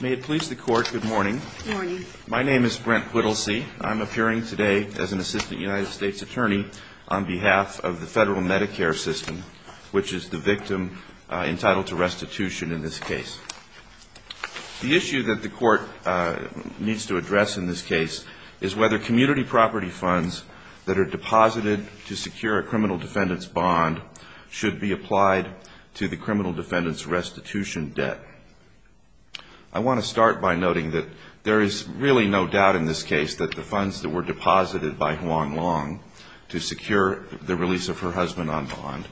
May it please the Court, good morning. My name is Brent Whittlesey. I'm appearing today as an Assistant United States Attorney on behalf of the Federal Medicare System, which is the victim entitled to restitution in this case. The issue that the Court needs to address in this case is whether community property funds that are deposited to secure a criminal defendant's bond should be applied to the criminal defendant's restitution debt. I want to start by noting that there is really no doubt in this case that the funds that were deposited by Hoang Luong to secure the release of her husband on bond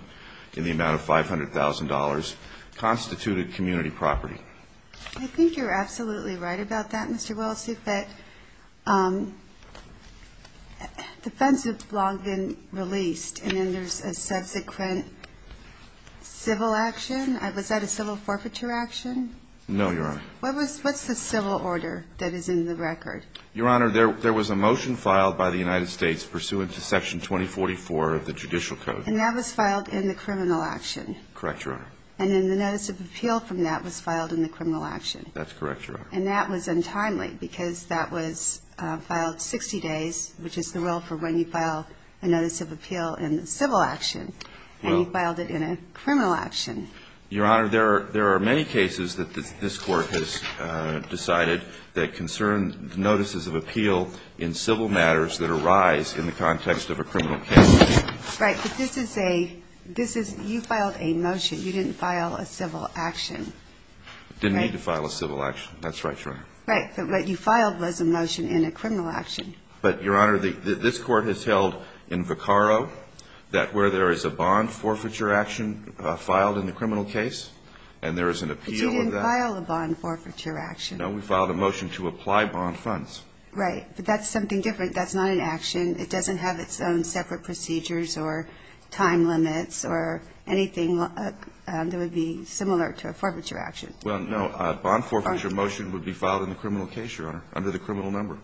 in the amount of $500,000 constituted community property. I think you're absolutely right about that, Mr. Whittlesey, that the funds have long been released and then there's a subsequent civil action. Was that a civil forfeiture action? No, Your Honor. What's the civil order that is in the record? Your Honor, there was a motion filed by the United States pursuant to Section 2044 of the Judicial Code. And that was filed in the criminal action? Correct, Your Honor. And then the notice of appeal from that was filed in the criminal action? That's correct, Your Honor. And that was untimely because that was filed 60 days, which is the rule for when you file a notice of appeal in the civil action, and you filed it in a criminal action. Your Honor, there are many cases that this Court has decided that concern notices of appeal in civil matters that arise in the context of a criminal case. Right. But this is a – this is – you filed a motion. You didn't file a civil action. Didn't need to file a civil action. That's right, Your Honor. Right. But what you filed was a motion in a criminal action. But, Your Honor, this Court has held in Vaccaro that where there is a bond forfeiture action filed in the criminal case and there is an appeal of that. But you didn't file a bond forfeiture action. No. We filed a motion to apply bond funds. Right. But that's something different. That's not an action. It doesn't have its own separate procedures or time limits or anything that would be similar to a forfeiture action. Well, no. A bond forfeiture motion would be filed in the criminal case, Your Honor, under the criminal number.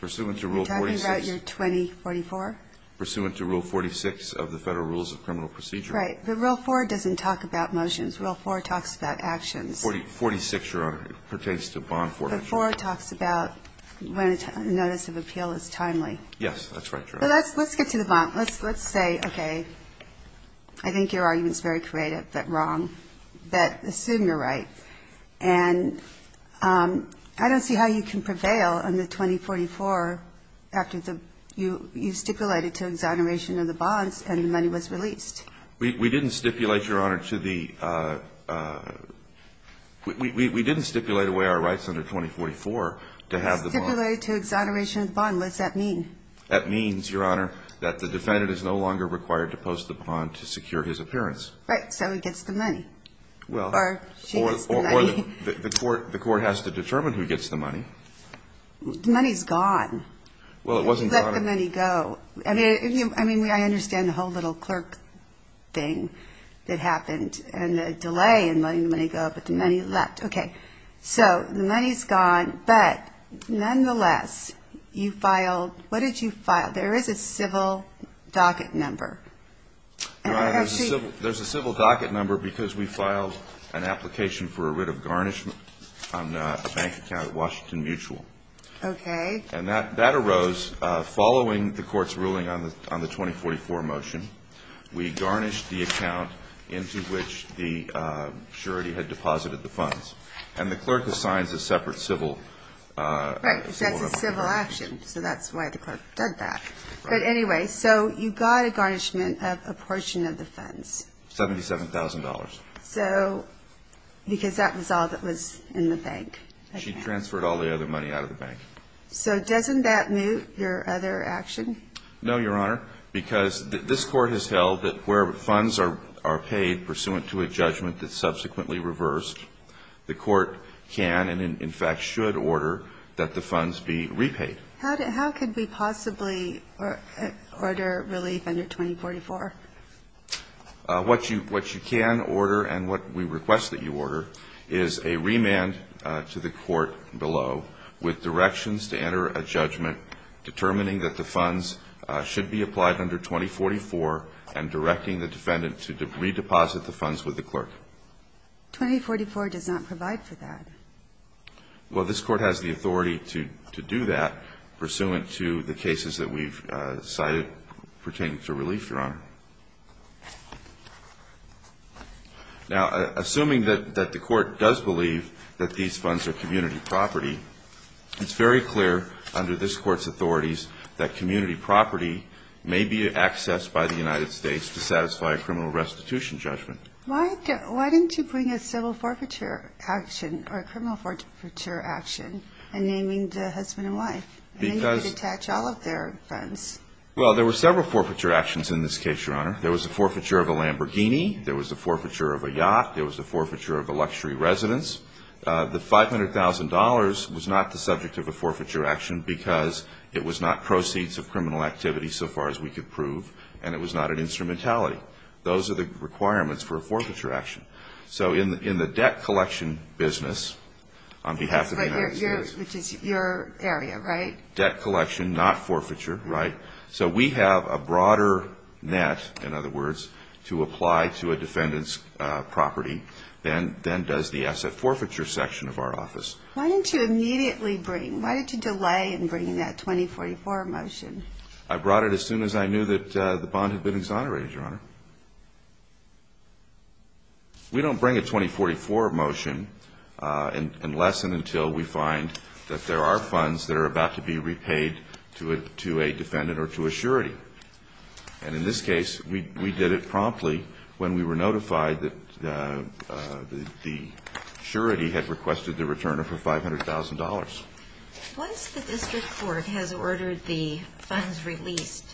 Pursuant to Rule 46. Are you talking about your 2044? Pursuant to Rule 46 of the Federal Rules of Criminal Procedure. Right. But Rule 4 doesn't talk about motions. Rule 4 talks about actions. 46, Your Honor. It pertains to bond forfeiture. But 4 talks about when a notice of appeal is timely. Yes, that's right, Your Honor. Let's get to the bond. Let's say, okay, I think your argument is very creative, but wrong. But assume you're right. And I don't see how you can prevail under 2044 after you stipulated to exoneration of the bonds and the money was released. We didn't stipulate, Your Honor, to the we didn't stipulate away our rights under 2044 to have the bond. We stipulated to exoneration of the bond. What does that mean? That means, Your Honor, that the defendant is no longer required to post the bond to secure his appearance. Right, so he gets the money. Or she gets the money. Or the court has to determine who gets the money. The money's gone. Well, it wasn't gone. You let the money go. I mean, I understand the whole little clerk thing that happened and the delay in letting the money go, but the money left. Okay, so the money's gone, but nonetheless, you filed, what did you file? There is a civil docket number. There's a civil docket number because we filed an application for a writ of garnishment on a bank account at Washington Mutual. Okay. And that arose following the court's ruling on the 2044 motion. We garnished the account into which the surety had deposited the funds, and the clerk assigns a separate civil. Right, that's a civil action, so that's why the clerk did that. But anyway, so you got a garnishment of a portion of the funds. $77,000. So, because that was all that was in the bank. She transferred all the other money out of the bank. So doesn't that move your other action? No, Your Honor, because this court has held that where funds are paid pursuant to a judgment that's subsequently reversed, the court can and, in fact, should order that the funds be repaid. How could we possibly order relief under 2044? What you can order and what we request that you order is a remand to the court below with directions to enter a judgment determining that the funds should be applied under 2044 and directing the defendant to redeposit the funds with the clerk. 2044 does not provide for that. Well, this court has the authority to do that pursuant to the cases that we've cited pertaining to relief, Your Honor. Now, assuming that the court does believe that these funds are community property, it's very clear under this court's authorities that community property may be accessed by the United States to satisfy a criminal restitution judgment. Why didn't you bring a civil forfeiture action or a criminal forfeiture action in naming the husband and wife? Then you could attach all of their funds. Well, there were several forfeiture actions in this case, Your Honor. There was the forfeiture of a Lamborghini. There was the forfeiture of a yacht. There was the forfeiture of a luxury residence. The $500,000 was not the subject of a forfeiture action because it was not proceeds of criminal activity so far as we could prove, and it was not an instrumentality. Those are the requirements for a forfeiture action. So in the debt collection business on behalf of the United States. Which is your area, right? Debt collection, not forfeiture, right? So we have a broader net, in other words, to apply to a defendant's property than does the asset forfeiture section of our office. Why didn't you immediately bring, why did you delay in bringing that 2044 motion? I brought it as soon as I knew that the bond had been exonerated, Your Honor. We don't bring a 2044 motion unless and until we find that there are funds that are about to be repaid to a defendant or to a surety. And in this case, we did it promptly when we were notified that the surety had requested the return of her $500,000. Once the district court has ordered the funds released,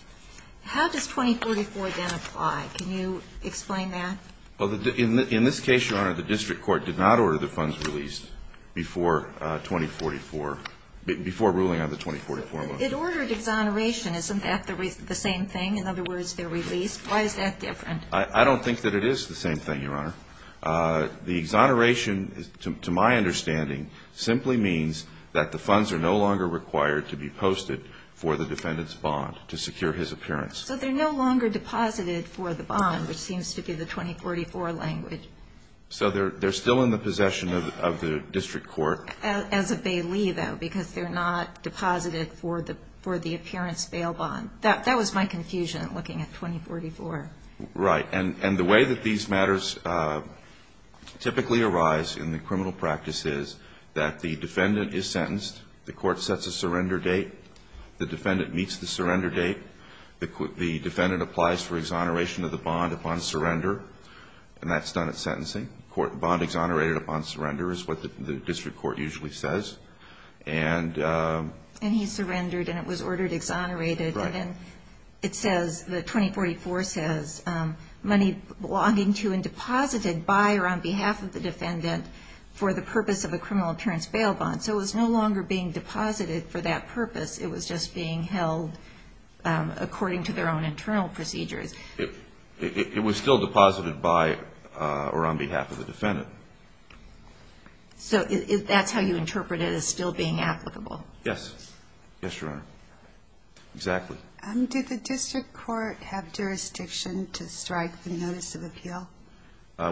how does 2044 then apply? Can you explain that? Well, in this case, Your Honor, the district court did not order the funds released before 2044, before ruling on the 2044 motion. It ordered exoneration. Isn't that the same thing? In other words, they're released. Why is that different? I don't think that it is the same thing, Your Honor. The exoneration, to my understanding, simply means that the funds are no longer required to be posted for the defendant's bond to secure his appearance. So they're no longer deposited for the bond, which seems to be the 2044 language. So they're still in the possession of the district court. As a bailee, though, because they're not deposited for the appearance bail bond. That was my confusion looking at 2044. Right. And the way that these matters typically arise in the criminal practice is that the defendant is sentenced. The court sets a surrender date. The defendant meets the surrender date. The defendant applies for exoneration of the bond upon surrender, and that's done at sentencing. Bond exonerated upon surrender is what the district court usually says. And he surrendered, and it was ordered exonerated. Right. And then it says, the 2044 says, money belonging to and deposited by or on behalf of the defendant for the purpose of a criminal appearance bail bond. So it was no longer being deposited for that purpose. It was just being held according to their own internal procedures. It was still deposited by or on behalf of the defendant. So that's how you interpret it as still being applicable? Yes. Yes, Your Honor. Exactly. Did the district court have jurisdiction to strike the notice of appeal?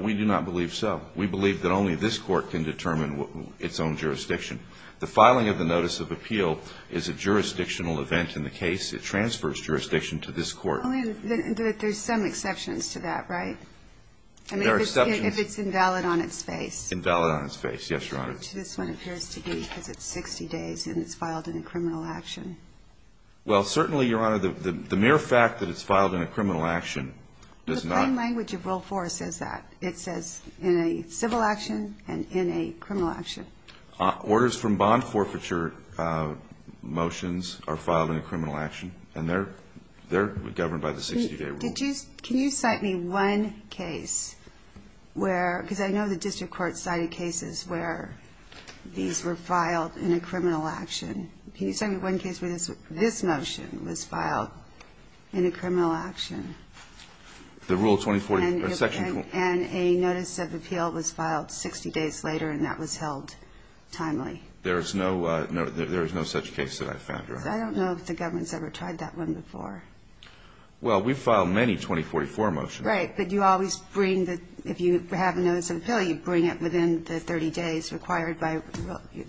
We do not believe so. We believe that only this court can determine its own jurisdiction. The filing of the notice of appeal is a jurisdictional event in the case. It transfers jurisdiction to this court. There's some exceptions to that, right? There are exceptions. If it's invalid on its face. Invalid on its face. Yes, Your Honor. Well, certainly, Your Honor, the mere fact that it's filed in a criminal action does not. The plain language of Rule 4 says that. It says, in a civil action and in a criminal action. Orders from bond forfeiture motions are filed in a criminal action. And they're governed by the 60-day rule. Can you cite me one case where, because I know the district court cited cases where, you know, these were filed in a criminal action. Can you cite me one case where this motion was filed in a criminal action? The Rule 2040. And a notice of appeal was filed 60 days later, and that was held timely. There is no such case that I've found, Your Honor. I don't know if the government's ever tried that one before. Well, we've filed many 2044 motions. Right. But you always bring the – if you have a notice of appeal, you bring it within the 30 days required by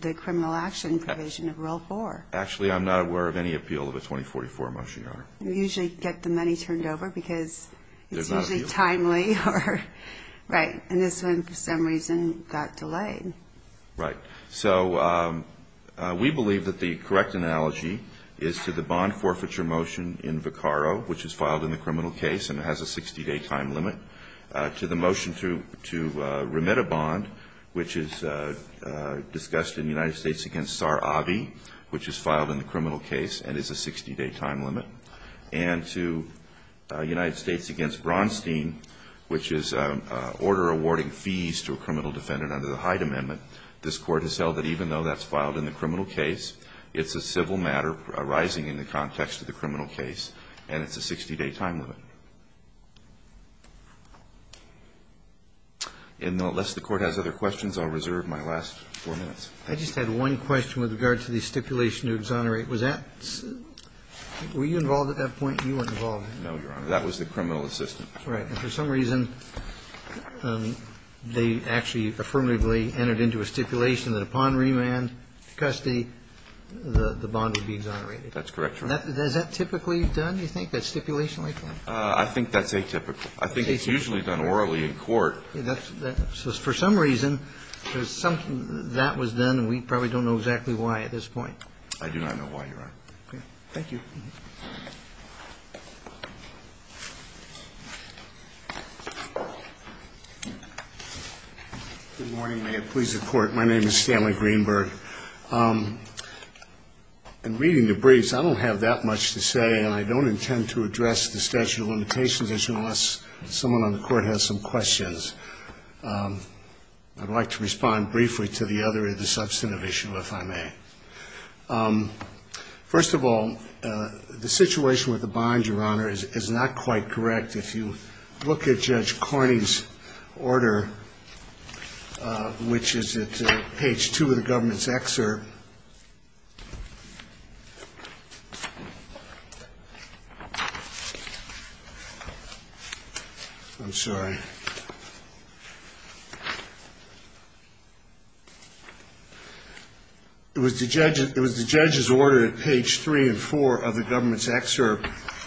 the criminal action provision of Rule 4. Actually, I'm not aware of any appeal of a 2044 motion, Your Honor. You usually get the money turned over because it's usually timely. There's not an appeal? Right. And this one, for some reason, got delayed. Right. So we believe that the correct analogy is to the bond forfeiture motion in Vicaro, which is filed in the criminal case and has a 60-day time limit, to the motion to remit a bond, which is discussed in United States v. Sar-Avi, which is filed in the criminal case and is a 60-day time limit, and to United States v. Bronstein, which is order awarding fees to a criminal defendant under the Hyde Amendment. This Court has held that even though that's filed in the criminal case, it's a civil matter arising in the context of the criminal case, and it's a 60-day time limit. And unless the Court has other questions, I'll reserve my last four minutes. I just had one question with regard to the stipulation to exonerate. Was that – were you involved at that point? You weren't involved. No, Your Honor. That was the criminal assistant. Right. And for some reason, they actually affirmatively entered into a stipulation that upon remand, custody, the bond would be exonerated. That's correct, Your Honor. Is that typically done, you think, that stipulation like that? I think that's atypical. I think it's usually done orally in court. So for some reason, there's some – that was done, and we probably don't know exactly why at this point. I do not know why, Your Honor. Thank you. Good morning, may it please the Court. My name is Stanley Greenberg. In reading the briefs, I don't have that much to say, and I don't intend to address the statute of limitations issue unless someone on the Court has some questions. I'd like to respond briefly to the other of the substantive issues, if I may. First of all, the situation with the bond, Your Honor, is not quite correct. If you look at Judge Cornyn's order, which is at page 2 of the government's excerpt,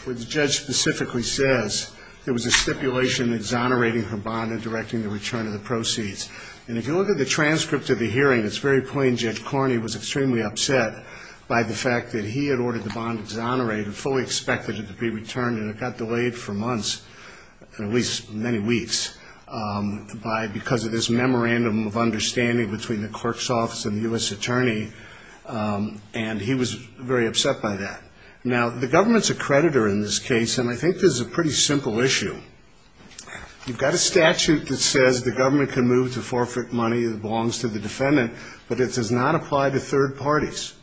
where the judge specifically says there was a stipulation exonerating her bond and directing the return of the proceeds. And if you look at the transcript of the hearing, it's very plain Judge Cornyn was extremely upset by the fact that he had ordered the bond exonerated, fully expected it to be returned to his attorney, and he was very upset by that. Now, the government's a creditor in this case, and I think this is a pretty simple issue. You've got a statute that says the government can move to forfeit money that belongs to the defendant, but it does not apply to third parties.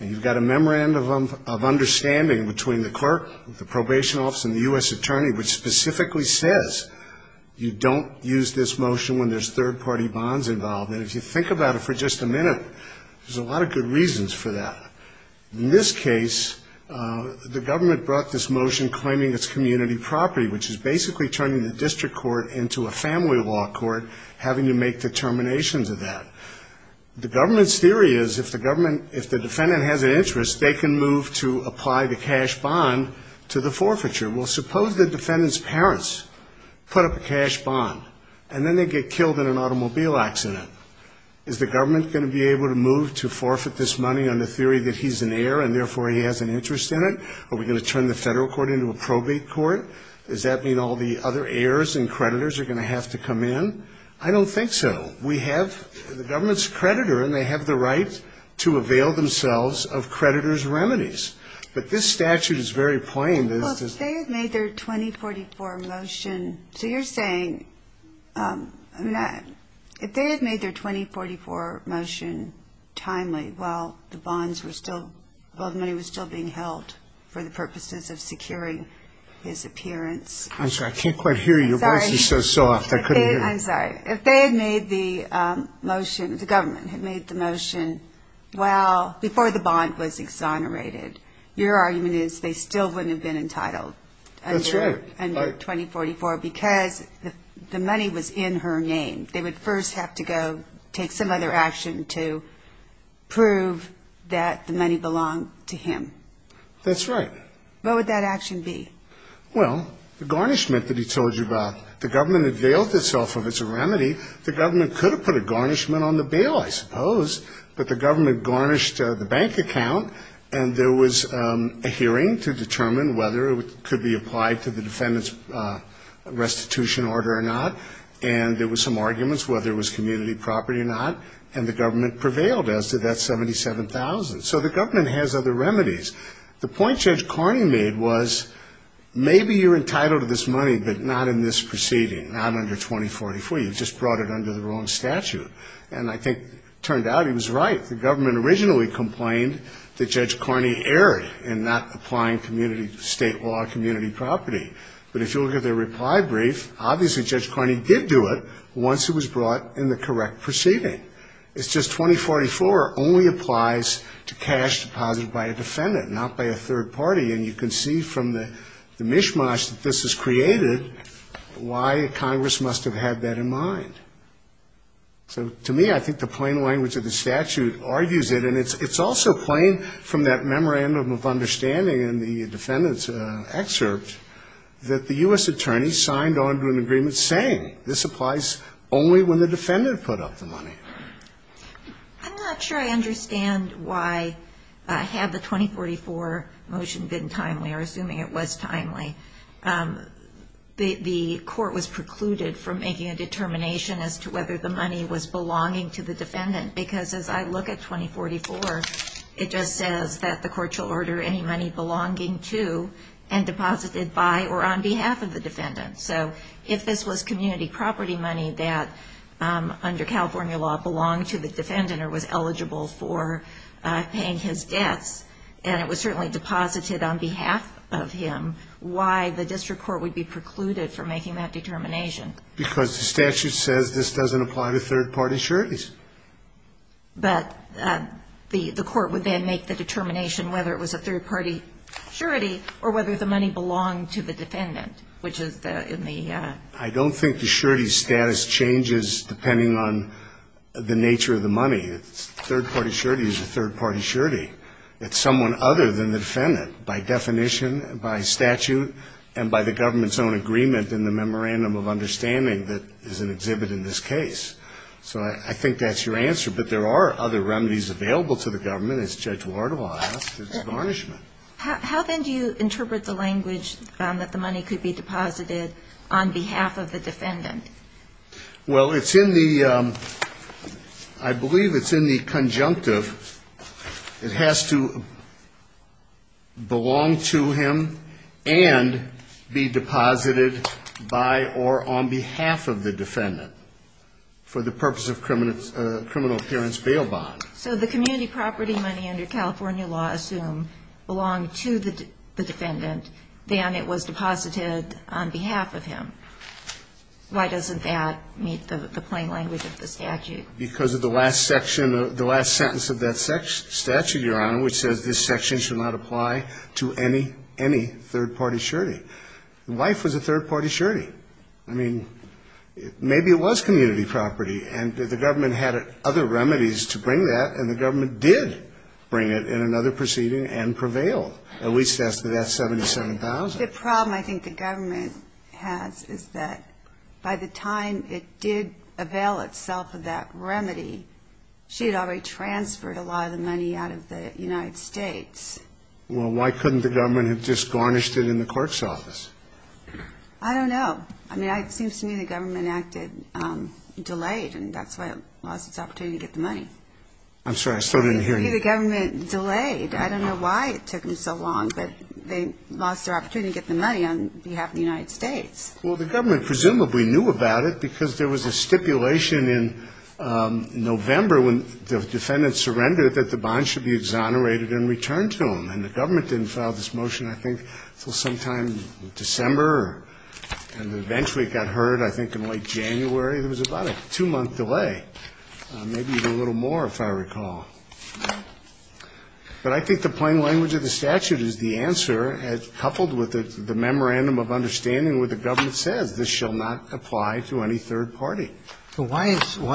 And you've got a memorandum of understanding between the clerk, the probation office, and the U.S. attorney which specifically says you don't use this motion when there's third-party bonds involved. And if you think about it for just a minute, there's a lot of good reasons for that. In this case, the government brought this motion claiming it's community property, which is basically turning the district court into a family law court, having to make determinations of that. The government's theory is if the defendant has an interest, they can move to apply the cash bond to the forfeiture. Well, suppose the defendant's parents put up a cash bond, and then they get killed in an automobile accident. Is the government going to be able to move to forfeit this money on the theory that he's an heir, and therefore he has an interest in it? Are we going to turn the federal court into a probate court? Does that mean all the other heirs and creditors are going to have to come in? I don't think so. We have the government's creditor, and they have the right to avail themselves of creditors' remedies. But this statute is very plain. Well, if they had made their 2044 motion, so you're saying, if they had made their 2044 motion timely while the bonds were still, while the money was still being held for the purposes of securing his appearance. I'm sorry, I can't quite hear you, your voice is so soft, I couldn't hear you. I'm sorry, if they had made the motion, the government had made the motion while, before the bond was exonerated, your argument is they still wouldn't have been entitled under 2044, because the money was in her name. They would first have to go take some other action to prove that the money belonged to him. That's right. What would that action be? Well, the garnishment that he told you about, the government availed itself of it as a remedy. The government could have put a garnishment on the bail, I suppose, but the government garnished the bank account, and there was a hearing to determine whether it could be applied to the defendant's restitution order or not, and there was some arguments whether it was community property or not, and the government prevailed as to that $77,000. So the government has other remedies. The point Judge Carney made was maybe you're entitled to this money, but not in this proceeding, not under 2044. You just brought it under the wrong statute. And I think it turned out he was right. The government originally complained that Judge Carney erred in not applying community, state law, community property. But if you look at the reply brief, obviously Judge Carney did do it once it was brought in the correct proceeding. It's just 2044 only applies to cash deposited by a defendant, not by a third party, and you can see from the mishmash that this has created why Congress must have had that in mind. To me, I think the plain language of the statute argues it, and it's also plain from that memorandum of understanding in the defendant's excerpt that the U.S. attorney signed on to an agreement saying this applies only when the defendant put up the money. I'm not sure I understand why, had the 2044 motion been timely, or assuming it was timely, the court was precluded from making a determination as to whether the money was belonging to the defendant. Because as I look at 2044, it just says that the court shall order any money belonging to and deposited by or on behalf of the defendant. So if this was community property money that, under California law, belonged to the defendant or was eligible for paying his debts, and it was certainly deposited on behalf of him, why the district court would be precluded from making that determination? Because the statute says this doesn't apply to third-party sureties. But the court would then make the determination whether it was a third-party surety or whether the money belonged to the defendant, which is in the ---- I don't think the surety status changes depending on the nature of the money. A third-party surety is a third-party surety. It's someone other than the defendant by definition, by statute, and by the government's own agreement in the memorandum of understanding that is in exhibit in this case. So I think that's your answer. But there are other remedies available to the government, as Judge Wardle asked, as varnishment. How then do you interpret the language that the money could be deposited on behalf of the defendant? Well, it's in the ---- I believe it's in the conjunctive. It has to belong to him and be deposited by or on behalf of the defendant for the purpose of criminal appearance bail bond. So the community property money under California law assumed belonged to the defendant, then it was deposited on behalf of him. Why doesn't that meet the plain language of the statute? Because of the last section, the last sentence of that statute, Your Honor, which says this section should not apply to any, any third-party surety. The wife was a third-party surety. I mean, maybe it was community property. And the government had other remedies to bring that, and the government did bring it in another proceeding and prevail. At least that's 77,000. The problem I think the government has is that by the time it did avail itself of that remedy, she had already transferred a lot of the money out of the United States. Well, why couldn't the government have just garnished it in the court's office? I don't know. I mean, it seems to me the government acted delayed, and that's why it lost its opportunity to get the money. I'm sorry. I still didn't hear you. Maybe the government delayed. I don't know why it took them so long, but they lost their opportunity to get the money on behalf of the United States. Well, the government presumably knew about it because there was a stipulation in November when the defendant surrendered that the bond should be exonerated and returned to him. And the government didn't file this motion, I think, until sometime in December And eventually it got heard, I think, in late January. There was about a two-month delay, maybe even a little more, if I recall. But I think the plain language of the statute is the answer, coupled with the memorandum of understanding where the government says this shall not apply to any third party. So why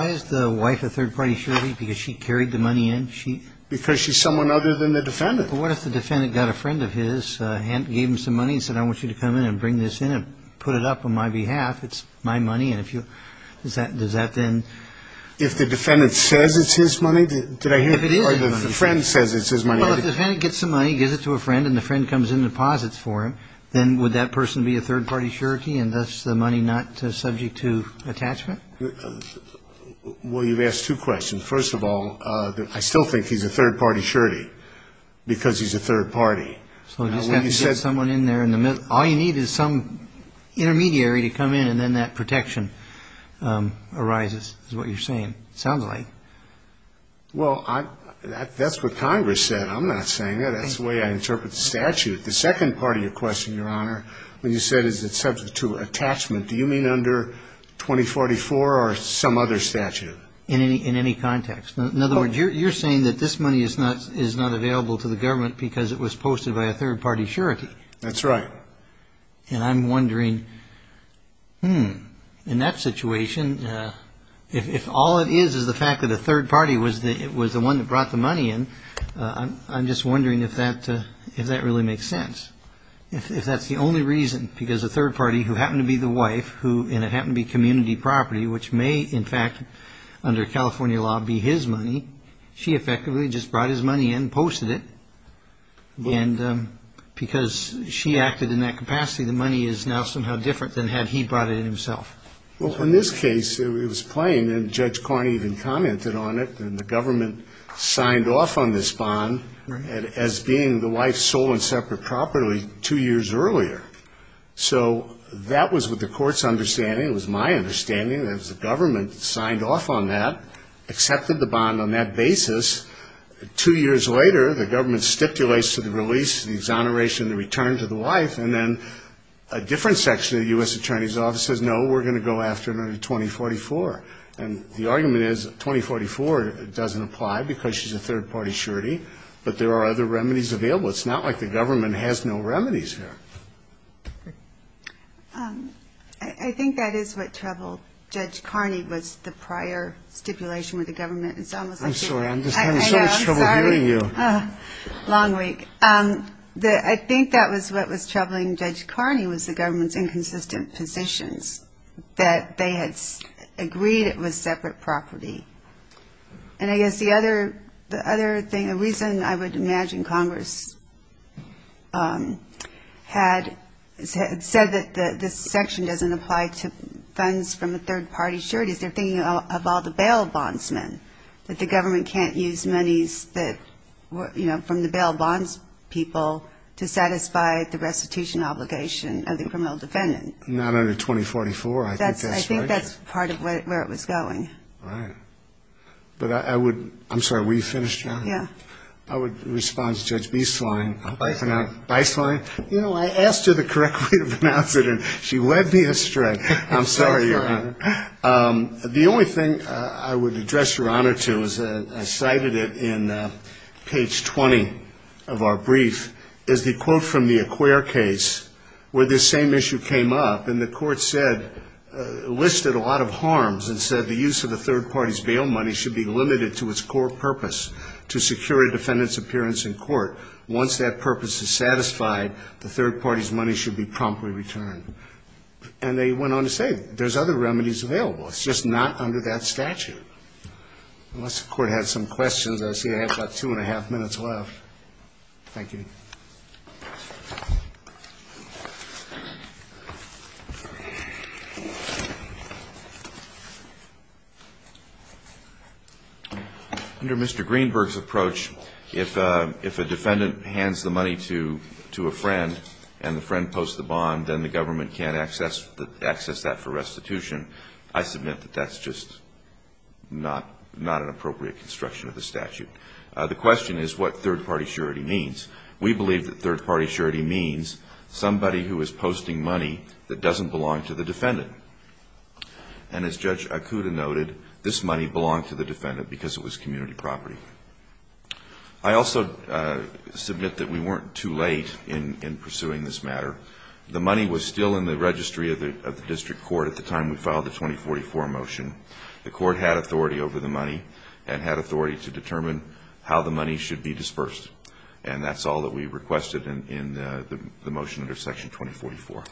is the wife a third-party surety? Because she carried the money in? Because she's someone other than the defendant. But what if the defendant got a friend of his, gave him some money and said, I want you to come in and bring this in and put it up on my behalf. It's my money. Does that then? If the defendant says it's his money, did I hear it? If it is. Or if the friend says it's his money. Well, if the defendant gets the money, gives it to a friend, and the friend comes in and deposits for him, then would that person be a third-party surety and thus the money not subject to attachment? Well, you've asked two questions. First of all, I still think he's a third-party surety because he's a third party. So you just have to get someone in there in the middle. All you need is some intermediary to come in and then that protection arises is what you're saying. It sounds like. Well, that's what Congress said. I'm not saying that. That's the way I interpret the statute. The second part of your question, Your Honor, when you said is it subject to attachment, do you mean under 2044 or some other statute? In any context. In other words, you're saying that this money is not available to the government because it was posted by a third-party surety. That's right. And I'm wondering, hmm, in that situation, if all it is is the fact that a third party was the one that brought the money in, I'm just wondering if that really makes sense, if that's the only reason because a third party who happened to be the wife and it happened to be community property, which may, in fact, under California law, be his money, she effectively just brought his money in, posted it, and because she acted in that capacity, the money is now somehow different than had he brought it in himself. Well, in this case, it was plain, and Judge Carney even commented on it, and the government signed off on this bond as being the wife's sole and separate property two years earlier. So that was with the court's understanding. It was my understanding. It was the government that signed off on that, accepted the bond on that basis. Two years later, the government stipulates to the release, the exoneration, the return to the wife, and then a different section of the U.S. Attorney's Office says, no, we're going to go after her in 2044. And the argument is 2044 doesn't apply because she's a third-party surety, but there are other remedies available. It's not like the government has no remedies here. I think that is what troubled Judge Carney was the prior stipulation with the government. I'm sorry. I'm just having so much trouble hearing you. Long week. I think that was what was troubling Judge Carney was the government's inconsistent positions, that they had agreed it was separate property. And I guess the other thing, the reason I would imagine Congress had said that this section doesn't apply to funds from a third-party surety is they're thinking of all the bail bondsmen, that the government can't use monies that were, you know, from the bail bonds people to satisfy the restitution obligation of the criminal defendant. Not under 2044, I think that's right. Right. But I would, I'm sorry, were you finished, John? Yeah. I would respond to Judge Beislein. Beislein. Beislein. You know, I asked her the correct way to pronounce it, and she led me astray. I'm sorry, Your Honor. The only thing I would address Your Honor to is I cited it in page 20 of our brief, is the quote from the Acquere case where this same issue came up, and the court said, listed a lot of harms and said, the use of the third party's bail money should be limited to its core purpose, to secure a defendant's appearance in court. Once that purpose is satisfied, the third party's money should be promptly returned. And they went on to say there's other remedies available. It's just not under that statute. Unless the court had some questions. I see I have about two and a half minutes left. Thank you. Under Mr. Greenberg's approach, if a defendant hands the money to a friend and the friend posts the bond, then the government can't access that for restitution. I submit that that's just not an appropriate construction of the statute. The question is what third party surety means. We believe that third party surety means somebody who is posting money that doesn't belong to the defendant. And as Judge Akuda noted, this money belonged to the defendant because it was community property. I also submit that we weren't too late in pursuing this matter. The money was still in the registry of the district court at the time we filed the 2044 motion. The court had authority over the money and had authority to determine how the money should be dispersed. And that's all that we requested in the motion under Section 2044.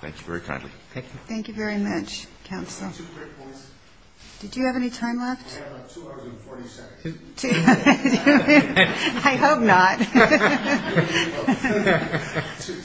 Thank you very kindly. Thank you. Thank you very much, counsel. Two quick points. Did you have any time left? I have about two hours and 40 seconds. I hope not.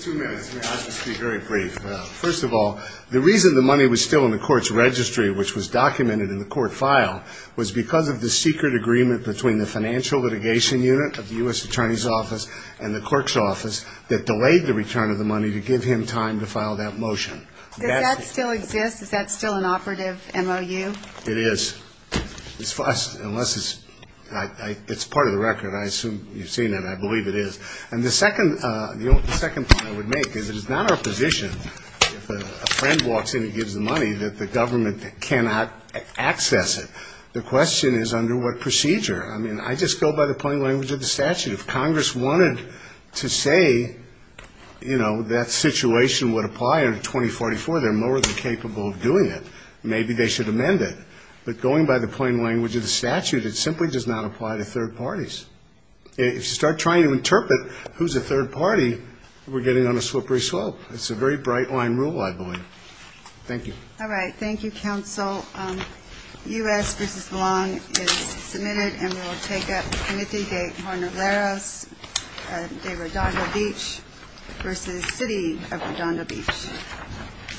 Two minutes. I'll just be very brief. First of all, the reason the money was still in the court's registry, which was documented in the court file, was because of the secret agreement between the financial litigation unit of the U.S. Attorney's Office and the clerk's office that delayed the return of the money to give him time to file that motion. Does that still exist? Is that still an operative MOU? It is. Unless it's part of the record. I assume you've seen it, and I believe it is. And the second point I would make is it is not our position, if a friend walks in and gives the money, that the government cannot access it. The question is under what procedure. I mean, I just go by the plain language of the statute. If Congress wanted to say, you know, that situation would apply under 2044, they're more than capable of doing it. Maybe they should amend it. But going by the plain language of the statute, it simply does not apply to third parties. If you start trying to interpret who's a third party, we're getting on a slippery slope. It's a very bright-line rule, I believe. Thank you. All right. Thank you, counsel. U.S. v. Belong is submitted, and we'll take it. Timothy de Hernandez de Redondo Beach v. City of Redondo Beach.